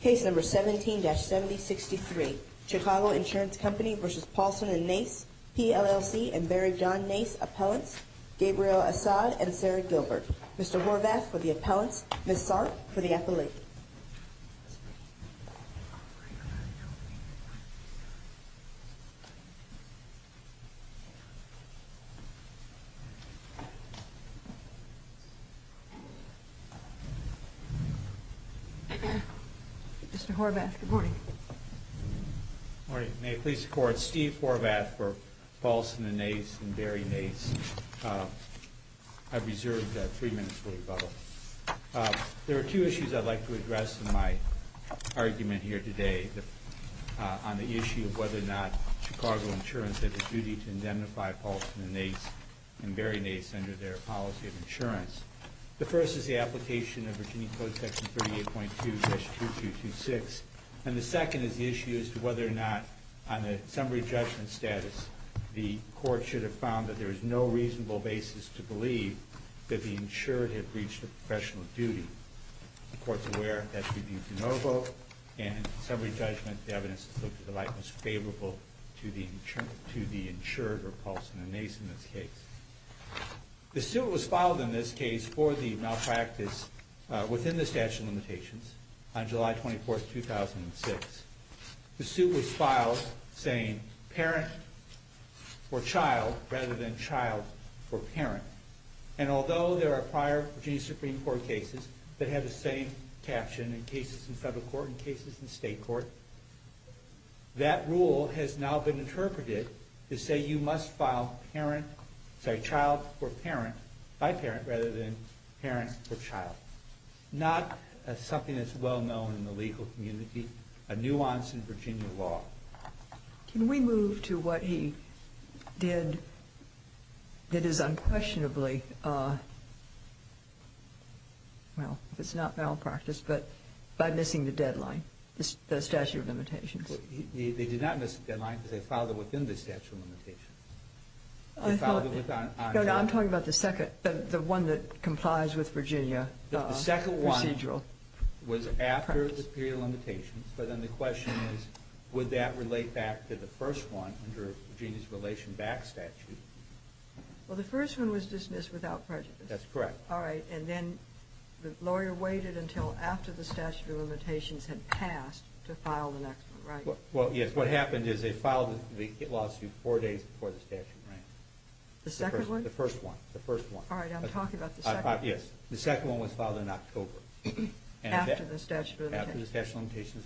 Case No. 17-7063, Chicago Insurance Company v. Paulson & Nace, PLLC and Barry John Nace Appellants, Gabriel Asad and Sarah Gilbert. Mr. Horvath for the appellants, Ms. Sark for the appellate. Mr. Horvath, good morning. Good morning. May it please the Court, Steve Horvath for Paulson & Nace and Barry Nace. I've reserved three minutes for rebuttal. There are two issues I'd like to address in my argument here today on the issue of whether or not Chicago Insurance has a duty to indemnify Paulson & Nace and Barry Nace under their policy of insurance. The first is the application of Virginia Code Section 38.2-2226. And the second is the issue as to whether or not, on a summary judgment status, the Court should have found that there is no reasonable basis to believe that the insured had reached a professional duty. The Court's aware that's reviewed de novo, and in summary judgment, the evidence is looked at the likeness favorable to the insured or Paulson & Nace in this case. The suit was filed in this case for the malpractice within the statute of limitations on July 24, 2006. The suit was filed saying parent for child rather than child for parent. And although there are prior Virginia Supreme Court cases that have the same caption in cases in federal court and cases in state court, that rule has now been interpreted to say you must file child for parent by parent rather than parent for child. Not something that's well known in the legal community, a nuance in Virginia law. Can we move to what he did that is unquestionably, well, if it's not malpractice, but by missing the deadline, the statute of limitations? They did not miss the deadline because they filed it within the statute of limitations. No, I'm talking about the second, the one that complies with Virginia procedural practice. Was after the period of limitations, but then the question is would that relate back to the first one under Virginia's relation back statute? Well, the first one was dismissed without prejudice. That's correct. All right, and then the lawyer waited until after the statute of limitations had passed to file the next one, right? Well, yes, what happened is they filed the lawsuit four days before the statute ran. The second one? The first one. All right, I'm talking about the second one. Yes, the second one was filed in October. After the statute of limitations. After the statute of limitations.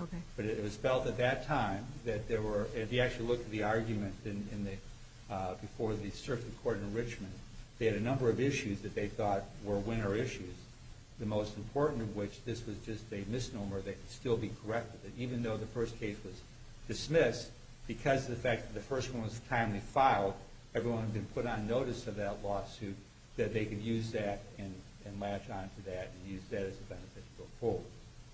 Okay. But it was felt at that time that there were, if you actually look at the argument before the circuit court in Richmond, they had a number of issues that they thought were winner issues. The most important of which, this was just a misnomer, they could still be corrected. Even though the first case was dismissed, because of the fact that the first one was timely filed, everyone could put on notice of that lawsuit that they could use that and latch on to that and use that as a benefit to go forward.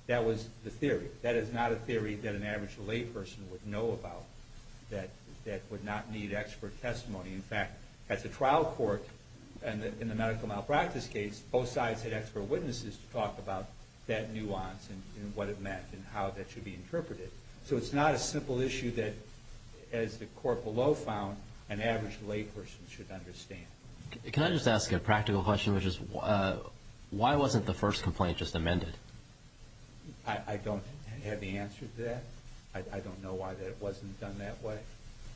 That was the theory. That is not a theory that an average layperson would know about that would not need expert testimony. In fact, as a trial court, in the medical malpractice case, both sides had expert witnesses to talk about that nuance and what it meant and how that should be interpreted. So it's not a simple issue that, as the court below found, an average layperson should understand. Can I just ask a practical question, which is why wasn't the first complaint just amended? I don't have the answer to that. I don't know why it wasn't done that way.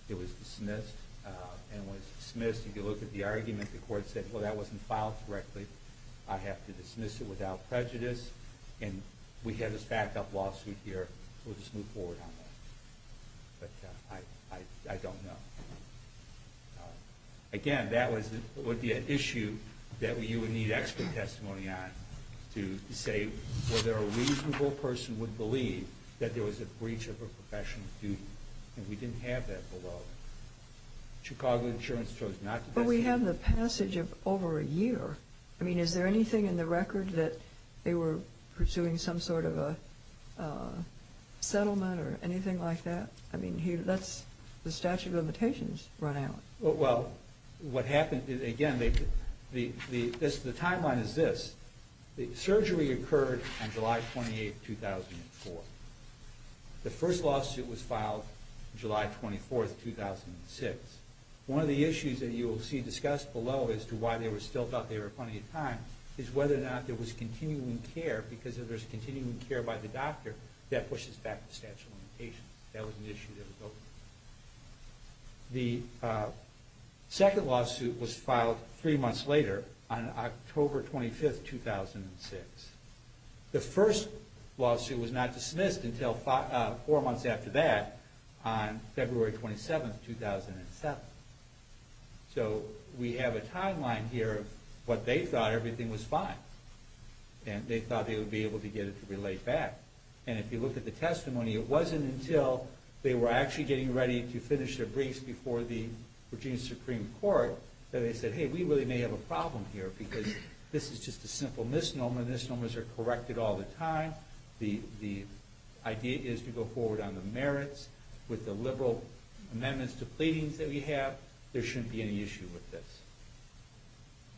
It was dismissed and was dismissed. If you look at the argument, the court said, well, that wasn't filed correctly. I have to dismiss it without prejudice. And we have this back-up lawsuit here. We'll just move forward on that. But I don't know. Again, that would be an issue that you would need expert testimony on to say whether a reasonable person would believe that there was a breach of a professional duty. And we didn't have that below. Chicago Insurance chose not to testify. But we have the passage of over a year. I mean, is there anything in the record that they were pursuing some sort of a settlement or anything like that? I mean, that's the statute of limitations run out. Well, what happened, again, the timeline is this. The surgery occurred on July 28, 2004. The first lawsuit was filed July 24, 2006. One of the issues that you will see discussed below as to why they still thought there was plenty of time is whether or not there was continuing care. Because if there's continuing care by the doctor, that pushes back the statute of limitations. That was an issue that was open. The second lawsuit was filed three months later on October 25, 2006. The first lawsuit was not dismissed until four months after that on February 27, 2007. So we have a timeline here of what they thought everything was fine. And they thought they would be able to get it to relate back. And if you look at the testimony, it wasn't until they were actually getting ready to finish their briefs before the Virginia Supreme Court that they said, hey, we really may have a problem here because this is just a simple misnomer. Misnomers are corrected all the time. The idea is to go forward on the merits with the liberal amendments to pleadings that we have. There shouldn't be any issue with this.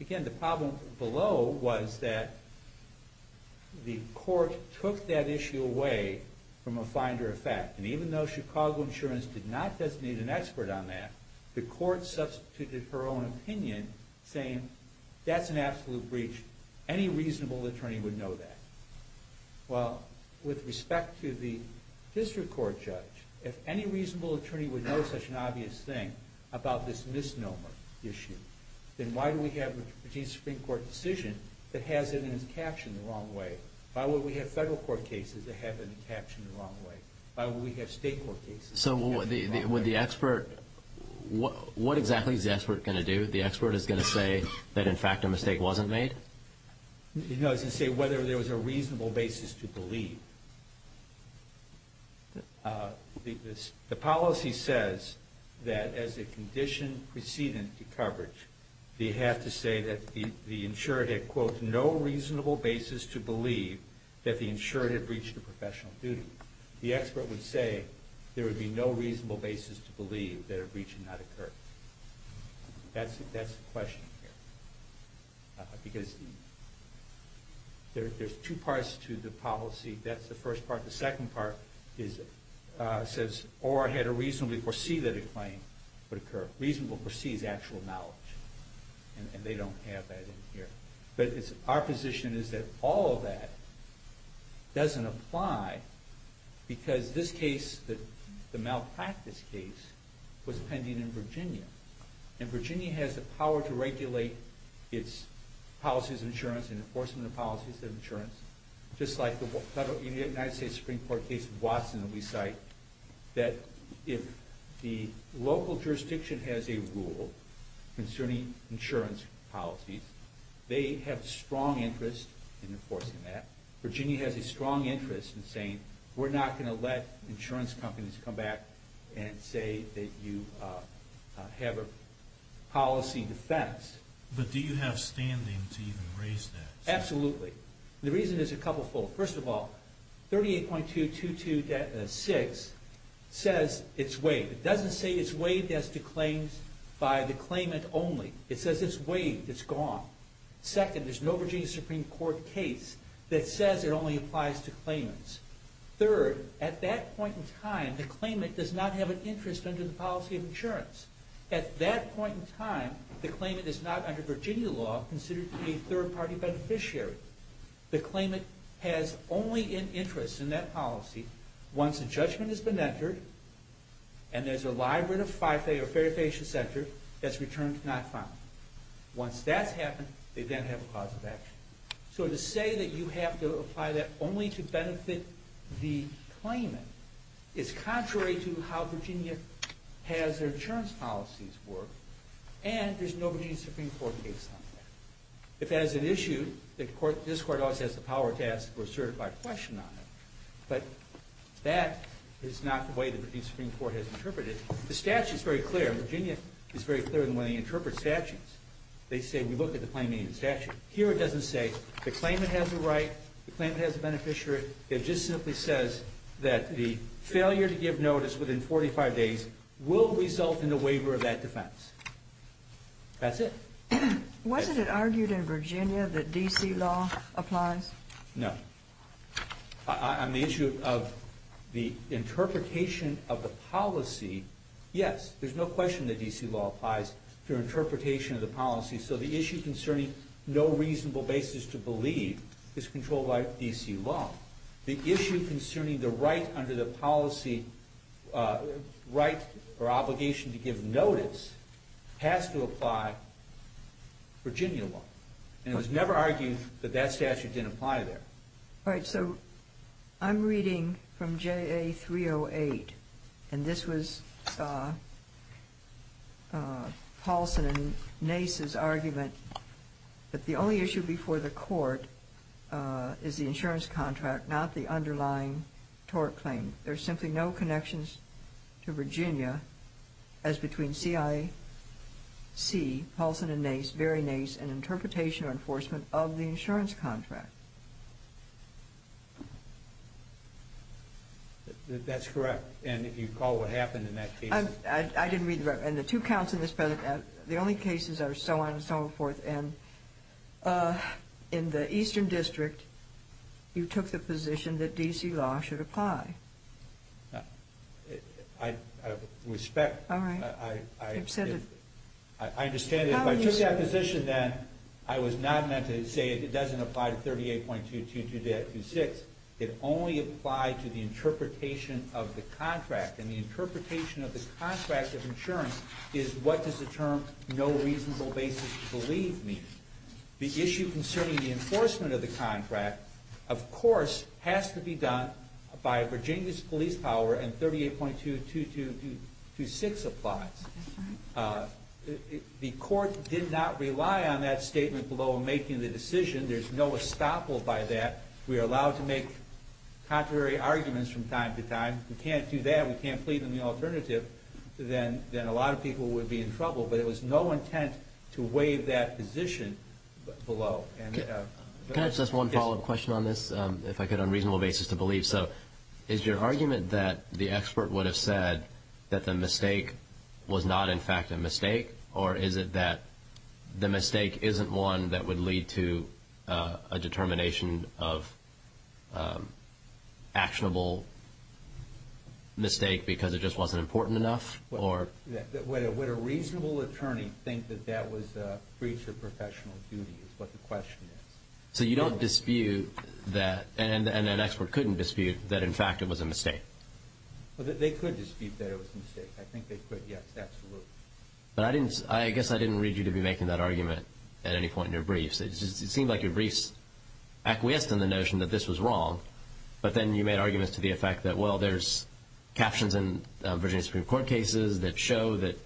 Again, the problem below was that the court took that issue away from a finder of fact. And even though Chicago Insurance did not designate an expert on that, the court substituted her own opinion saying that's an absolute breach. Any reasonable attorney would know that. Well, with respect to the district court judge, if any reasonable attorney would know such an obvious thing about this misnomer issue, then why do we have a Virginia Supreme Court decision that has it in its caption the wrong way? Why would we have federal court cases that have it in the caption the wrong way? Why would we have state court cases that have it in the wrong way? So would the expert – what exactly is the expert going to do? The expert is going to say that, in fact, a mistake wasn't made? No, he's going to say whether there was a reasonable basis to believe. The policy says that as a condition preceding the coverage, they have to say that the insured had, quote, no reasonable basis to believe that the insured had breached a professional duty. The expert would say there would be no reasonable basis to believe that a breach had not occurred. That's the question here. Because there's two parts to the policy. That's the first part. The second part says, or had it reasonably foreseen that a claim would occur. Reasonable foresees actual knowledge. And they don't have that in here. But our position is that all of that doesn't apply because this case, the malpractice case, was pending in Virginia. And Virginia has the power to regulate its policies of insurance and enforcement of policies of insurance, just like the United States Supreme Court case in Watson that we cite, that if the local jurisdiction has a rule concerning insurance policies, they have strong interest in enforcing that. Virginia has a strong interest in saying, we're not going to let insurance companies come back and say that you have a policy defense. But do you have standing to even raise that? Absolutely. The reason is a couple of folks. First of all, 38.222.6 says it's waived. It doesn't say it's waived as to claims by the claimant only. It says it's waived. It's gone. Second, there's no Virginia Supreme Court case that says it only applies to claimants. Third, at that point in time, the claimant does not have an interest under the policy of insurance. At that point in time, the claimant is not under Virginia law considered to be a third-party beneficiary. The claimant has only an interest in that policy once a judgment has been entered and there's a library of fair and efficient center that's returned not found. Once that's happened, they then have a cause of action. So to say that you have to apply that only to benefit the claimant is contrary to how Virginia has their insurance policies work, and there's no Virginia Supreme Court case on that. If that is an issue, this Court always has the power to ask for a certified question on it, but that is not the way the Virginia Supreme Court has interpreted it. The statute is very clear. Virginia is very clear in the way they interpret statutes. They say we look at the claimant in the statute. Here it doesn't say the claimant has a right, the claimant has a beneficiary. It just simply says that the failure to give notice within 45 days will result in a waiver of that defense. That's it. Wasn't it argued in Virginia that D.C. law applies? No. On the issue of the interpretation of the policy, yes. There's no question that D.C. law applies to interpretation of the policy. So the issue concerning no reasonable basis to believe is controlled by D.C. law. The issue concerning the right under the policy, right or obligation to give notice, has to apply Virginia law. And it was never argued that that statute didn't apply there. All right. So I'm reading from JA 308, and this was Paulson and Nace's argument that the only issue before the court is the insurance contract, not the underlying tort claim. There's simply no connections to Virginia as between CIC, Paulson and Nace, Berry-Nace, and interpretation or enforcement of the insurance contract. That's correct. And if you recall what happened in that case? I didn't read the record. And the two counts in this precedent, the only cases are so on and so forth. And in the Eastern District, you took the position that D.C. law should apply. I respect. All right. You've said it. I understand it. If I took that position then, I was not meant to say it doesn't apply to 38.2226. It only applied to the interpretation of the contract. And the interpretation of the contract of insurance is what does the term no reasonable basis believe mean. The issue concerning the enforcement of the contract, of course, has to be done by Virginia's police power and 38.2226 applies. The court did not rely on that statement below in making the decision. There's no estoppel by that. We are allowed to make contrary arguments from time to time. We can't do that. We can't plead in the alternative. Then a lot of people would be in trouble. But it was no intent to waive that position below. Can I ask one follow-up question on this, if I could, on a reasonable basis to believe? Is your argument that the expert would have said that the mistake was not, in fact, a mistake? Or is it that the mistake isn't one that would lead to a determination of actionable mistake because it just wasn't important enough? Would a reasonable attorney think that that was breach of professional duty is what the question is. So you don't dispute that, and an expert couldn't dispute that, in fact, it was a mistake. They could dispute that it was a mistake. I think they could, yes, absolutely. But I guess I didn't read you to be making that argument at any point in your briefs. It seemed like your briefs acquiesced in the notion that this was wrong, but then you made arguments to the effect that, well, there's captions in Virginia Supreme Court cases that show that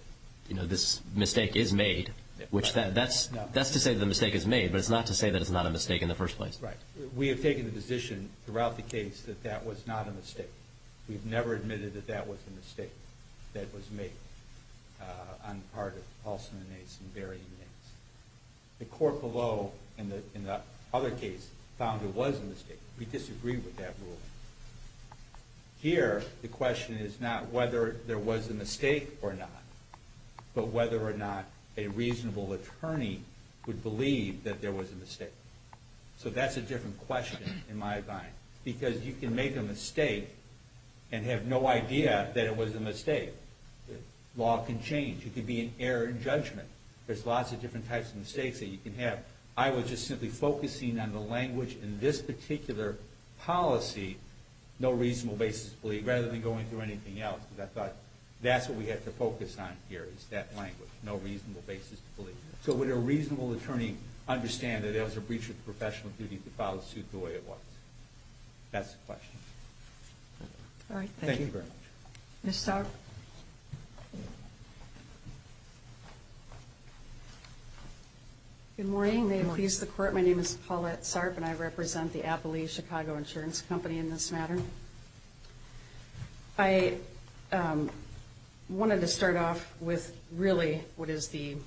this mistake is made, which that's to say the mistake is made, but it's not to say that it's not a mistake in the first place. Right. We have taken the position throughout the case that that was not a mistake. We've never admitted that that was a mistake that was made on the part of Paulson and Nace and Barry and Nace. The court below, in the other case, found it was a mistake. We disagreed with that ruling. Here, the question is not whether there was a mistake or not, but whether or not a reasonable attorney would believe that there was a mistake. So that's a different question in my mind, because you can make a mistake and have no idea that it was a mistake. Law can change. It can be an error in judgment. There's lots of different types of mistakes that you can have. I was just simply focusing on the language in this particular policy, no reasonable basis to believe, rather than going through anything else, because I thought that's what we have to focus on here is that language, no reasonable basis to believe. So would a reasonable attorney understand that there was a breach of professional duty to file a suit the way it was? That's the question. Thank you very much. Ms. Sarp? Good morning. May it please the Court, my name is Paulette Sarp, and I represent the Appley Chicago Insurance Company in this matter. I wanted to start off with really what is the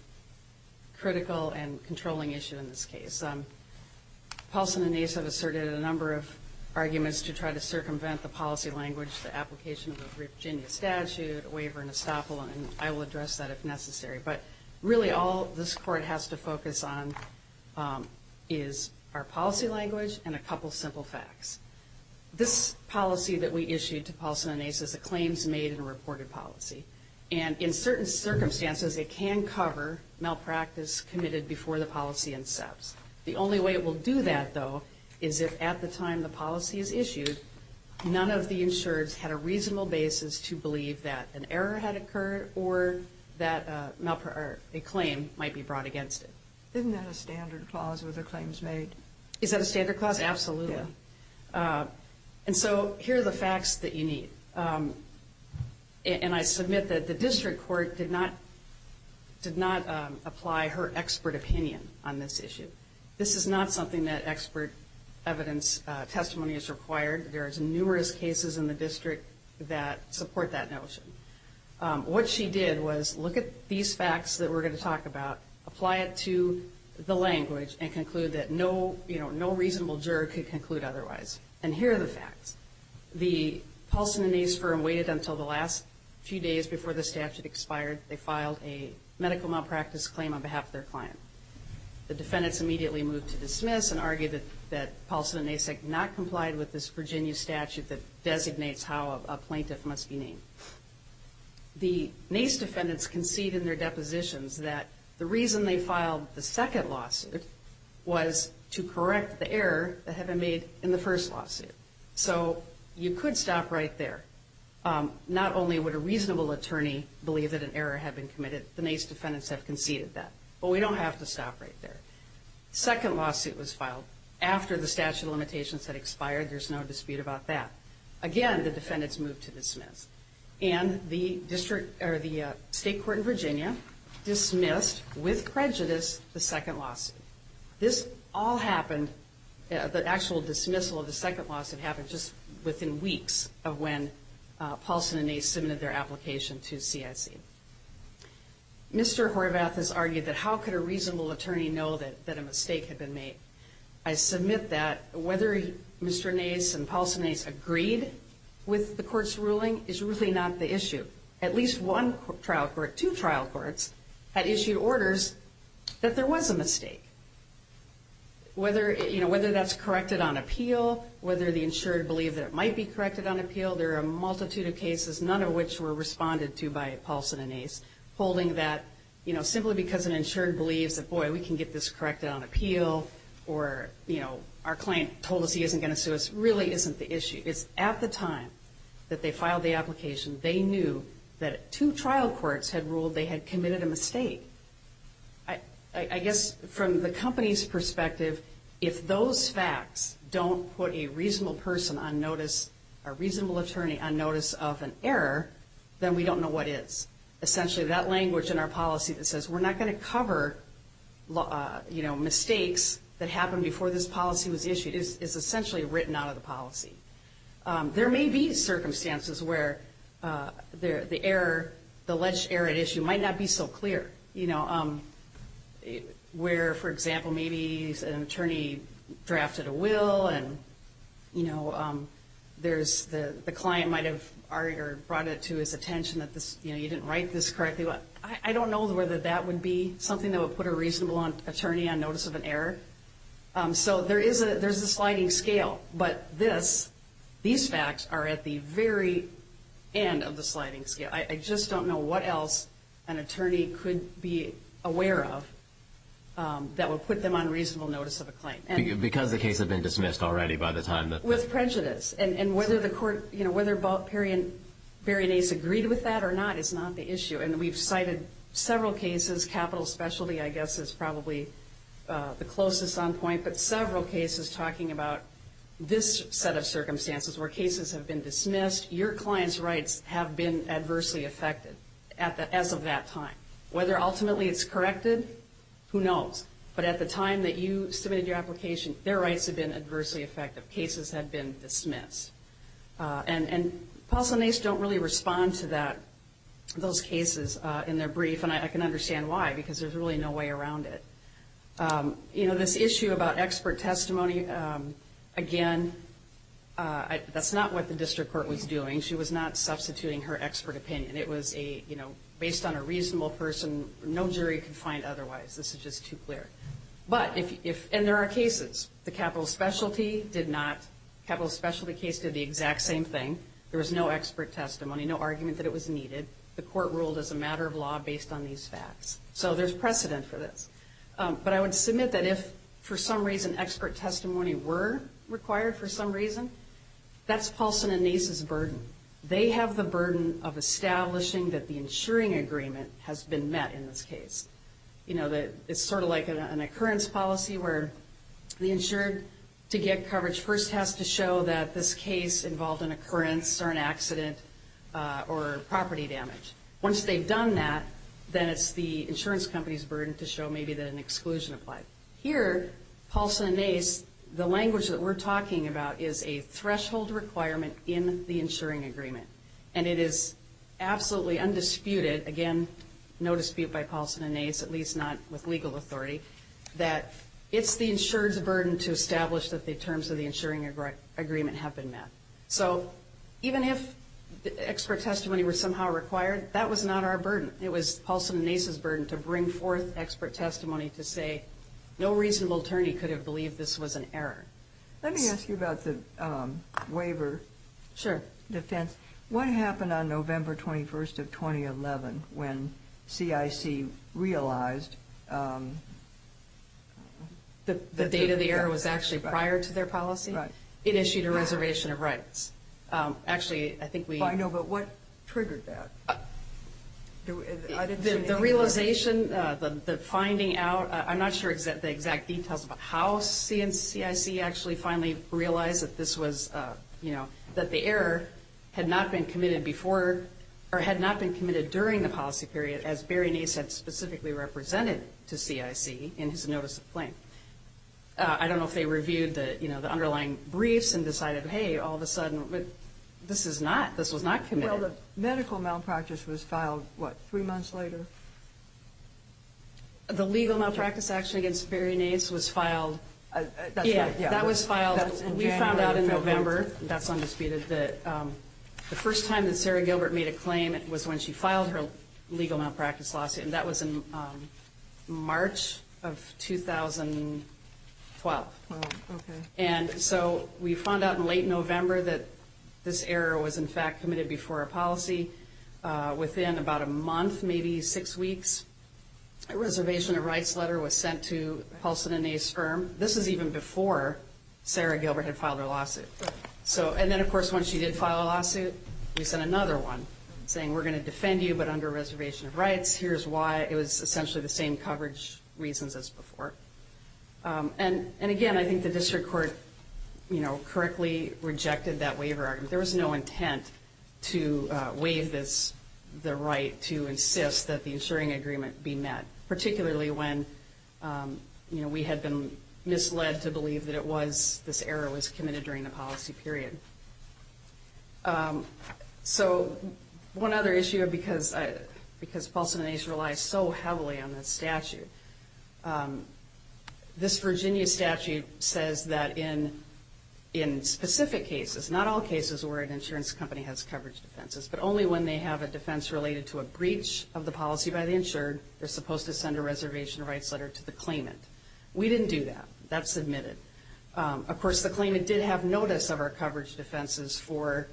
critical and controlling issue in this case. Paulson and Ace have asserted a number of arguments to try to circumvent the policy language, the application of the Virginia statute, waiver and estoppel, and I will address that if necessary. But really all this Court has to focus on is our policy language and a couple simple facts. This policy that we issued to Paulson and Ace is a claims made and reported policy, and in certain circumstances it can cover malpractice committed before the policy incepts. The only way it will do that, though, is if at the time the policy is issued, none of the insureds had a reasonable basis to believe that an error had occurred or that a claim might be brought against it. Isn't that a standard clause with the claims made? Is that a standard clause? Yes, absolutely. And so here are the facts that you need. And I submit that the district court did not apply her expert opinion on this issue. This is not something that expert evidence testimony is required. There are numerous cases in the district that support that notion. What she did was look at these facts that we're going to talk about, apply it to the language, and conclude that no reasonable juror could conclude otherwise. And here are the facts. The Paulson and Ace firm waited until the last few days before the statute expired. They filed a medical malpractice claim on behalf of their client. The defendants immediately moved to dismiss and argued that Paulson and Ace had not complied with this Virginia statute that designates how a plaintiff must be named. The Nace defendants concede in their depositions that the reason they filed the second lawsuit was to correct the error that had been made in the first lawsuit. So you could stop right there. Not only would a reasonable attorney believe that an error had been committed, the Nace defendants have conceded that. But we don't have to stop right there. The second lawsuit was filed after the statute of limitations had expired. There's no dispute about that. Again, the defendants moved to dismiss. And the state court in Virginia dismissed, with prejudice, the second lawsuit. This all happened, the actual dismissal of the second lawsuit happened just within weeks of when Paulson and Ace submitted their application to CIC. Mr. Horvath has argued that how could a reasonable attorney know that a mistake had been made? I submit that whether Mr. Nace and Paulson and Ace agreed with the court's ruling is really not the issue. At least one trial court, two trial courts, had issued orders that there was a mistake. Whether that's corrected on appeal, whether the insured believe that it might be corrected on appeal, there are a multitude of cases, none of which were responded to by Paulson and Ace, holding that simply because an insured believes that, boy, we can get this corrected on appeal, or our client told us he isn't going to sue us, really isn't the issue. It's at the time that they filed the application they knew that two trial courts had ruled they had committed a mistake. I guess from the company's perspective, if those facts don't put a reasonable person on notice, a reasonable attorney on notice of an error, then we don't know what is. Essentially, that language in our policy that says we're not going to cover mistakes that happened before this policy was issued is essentially written out of the policy. There may be circumstances where the alleged error at issue might not be so clear, where, for example, maybe an attorney drafted a will, and the client might have argued or brought it to his attention that you didn't write this correctly. I don't know whether that would be something that would put a reasonable attorney on notice of an error. So there is a sliding scale, but these facts are at the very end of the sliding scale. I just don't know what else an attorney could be aware of that would put them on reasonable notice of a claim. Because the case had been dismissed already by the time that With prejudice, and whether the court, you know, whether Barry and Ace agreed with that or not is not the issue. And we've cited several cases, capital specialty I guess is probably the closest on point, but several cases talking about this set of circumstances where cases have been dismissed, your client's rights have been adversely affected as of that time. Whether ultimately it's corrected, who knows? But at the time that you submitted your application, their rights have been adversely affected. Cases have been dismissed. And Paulson and Ace don't really respond to those cases in their brief, and I can understand why, because there's really no way around it. You know, this issue about expert testimony, again, that's not what the district court was doing. She was not substituting her expert opinion. It was a, you know, based on a reasonable person. No jury could find otherwise. This is just too clear. But if, and there are cases. The capital specialty did not, capital specialty case did the exact same thing. There was no expert testimony, no argument that it was needed. The court ruled as a matter of law based on these facts. So there's precedent for this. But I would submit that if for some reason expert testimony were required for some reason, that's Paulson and Ace's burden. They have the burden of establishing that the insuring agreement has been met in this case. You know, it's sort of like an occurrence policy where the insured to get coverage first has to show that this case involved an occurrence or an accident or property damage. Once they've done that, then it's the insurance company's burden to show maybe that an exclusion applied. Here, Paulson and Ace, the language that we're talking about is a threshold requirement in the insuring agreement. And it is absolutely undisputed, again, no dispute by Paulson and Ace, at least not with legal authority, that it's the insured's burden to establish that the terms of the insuring agreement have been met. So even if expert testimony were somehow required, that was not our burden. It was Paulson and Ace's burden to bring forth expert testimony to say, no reasonable attorney could have believed this was an error. Let me ask you about the waiver defense. Sure. What happened on November 21st of 2011 when CIC realized that the date of the error was actually prior to their policy? Right. It issued a reservation of rights. Actually, I think we- I know, but what triggered that? The realization, the finding out, I'm not sure the exact details about how CIC actually finally realized that this was, you know, that the error had not been committed before or had not been committed during the policy period, as Barry and Ace had specifically represented to CIC in his notice of claim. I don't know if they reviewed the underlying briefs and decided, hey, all of a sudden, this is not, this was not committed. Well, the medical malpractice was filed, what, three months later? The legal malpractice action against Barry and Ace was filed- That's right. Yeah, that was filed. We found out in November, that's undisputed, that the first time that Sarah Gilbert made a claim was when she filed her legal malpractice lawsuit, and that was in March of 2012. Oh, okay. And so we found out in late November that this error was, in fact, committed before a policy. Within about a month, maybe six weeks, a reservation of rights letter was sent to Halston and Ace's firm. This is even before Sarah Gilbert had filed her lawsuit. Right. So, and then, of course, once she did file a lawsuit, we sent another one saying, we're going to defend you, but under reservation of rights. Here's why. It was essentially the same coverage reasons as before. And, again, I think the district court, you know, correctly rejected that waiver argument. There was no intent to waive this, the right to insist that the insuring agreement be met, particularly when, you know, we had been misled to believe that it was, this error was committed during the policy period. So one other issue, because Paulson and Ace relies so heavily on this statute, this Virginia statute says that in specific cases, not all cases where an insurance company has coverage defenses, but only when they have a defense related to a breach of the policy by the insured, they're supposed to send a reservation of rights letter to the claimant. We didn't do that. That's admitted. Of course, the claimant did have notice of our coverage defenses for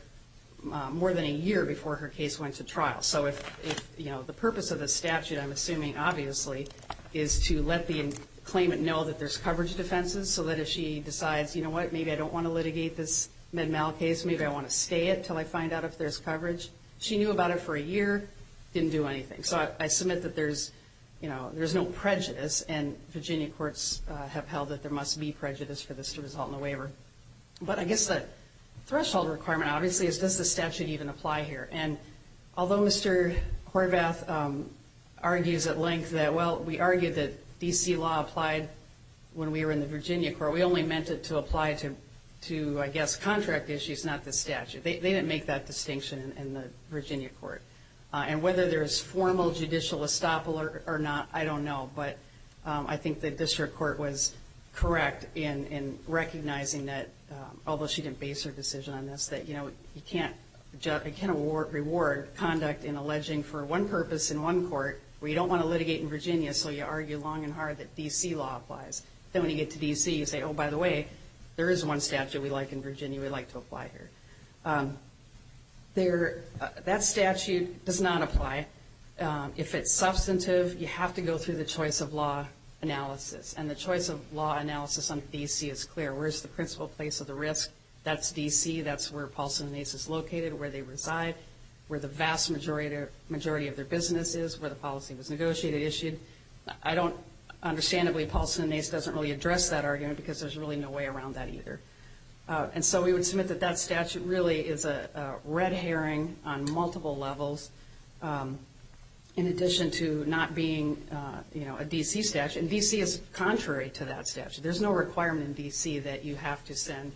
more than a year before her case went to trial. So if, you know, the purpose of the statute, I'm assuming, obviously, is to let the claimant know that there's coverage defenses, so that if she decides, you know what, maybe I don't want to litigate this Med-Mal case, maybe I want to stay it until I find out if there's coverage. She knew about it for a year, didn't do anything. So I submit that there's, you know, there's no prejudice, and Virginia courts have held that there must be prejudice for this to result in a waiver. But I guess the threshold requirement, obviously, is does the statute even apply here? And although Mr. Horvath argues at length that, well, we argued that D.C. law applied when we were in the Virginia court, we only meant it to apply to, I guess, contract issues, not the statute. They didn't make that distinction in the Virginia court. And whether there is formal judicial estoppel or not, I don't know. But I think the district court was correct in recognizing that, although she didn't base her decision on this, that, you know, you can't reward conduct in alleging for one purpose in one court where you don't want to litigate in Virginia, so you argue long and hard that D.C. law applies. Then when you get to D.C., you say, oh, by the way, there is one statute we like in Virginia, we'd like to apply here. That statute does not apply. If it's substantive, you have to go through the choice of law analysis. And the choice of law analysis on D.C. is clear. Where is the principal place of the risk? That's D.C. That's where Paulson and Nace is located, where they reside, where the vast majority of their business is, where the policy was negotiated, issued. I don't – understandably, Paulson and Nace doesn't really address that argument because there's really no way around that either. And so we would submit that that statute really is a red herring on multiple levels, in addition to not being, you know, a D.C. statute. And D.C. is contrary to that statute. There's no requirement in D.C. that you have to send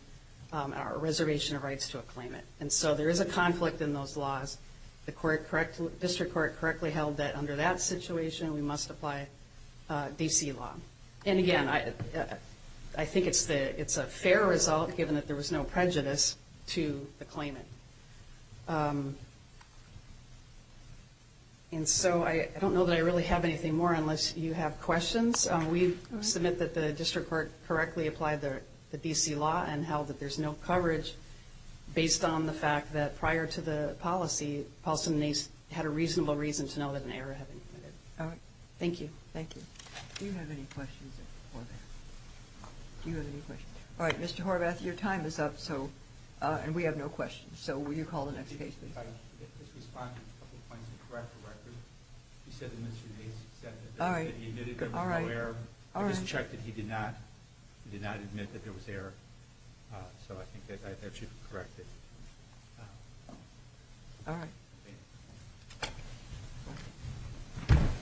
a reservation of rights to a claimant. And so there is a conflict in those laws. The district court correctly held that under that situation, we must apply D.C. law. And, again, I think it's a fair result, given that there was no prejudice to the claimant. And so I don't know that I really have anything more, unless you have questions. We submit that the district court correctly applied the D.C. law and held that there's no coverage based on the fact that prior to the policy, Paulson and Nace had a reasonable reason to know that an error had been committed. All right. Thank you. Thank you. Do you have any questions, Horvath? Do you have any questions? All right, Mr. Horvath, your time is up, and we have no questions. So will you call the next case, please? I just responded to a couple of points to correct the record. You said that Mr. Nace said that he admitted there was no error. I just checked that he did not. He did not admit that there was error. So I think that should be corrected. All right. Thank you. Thank you.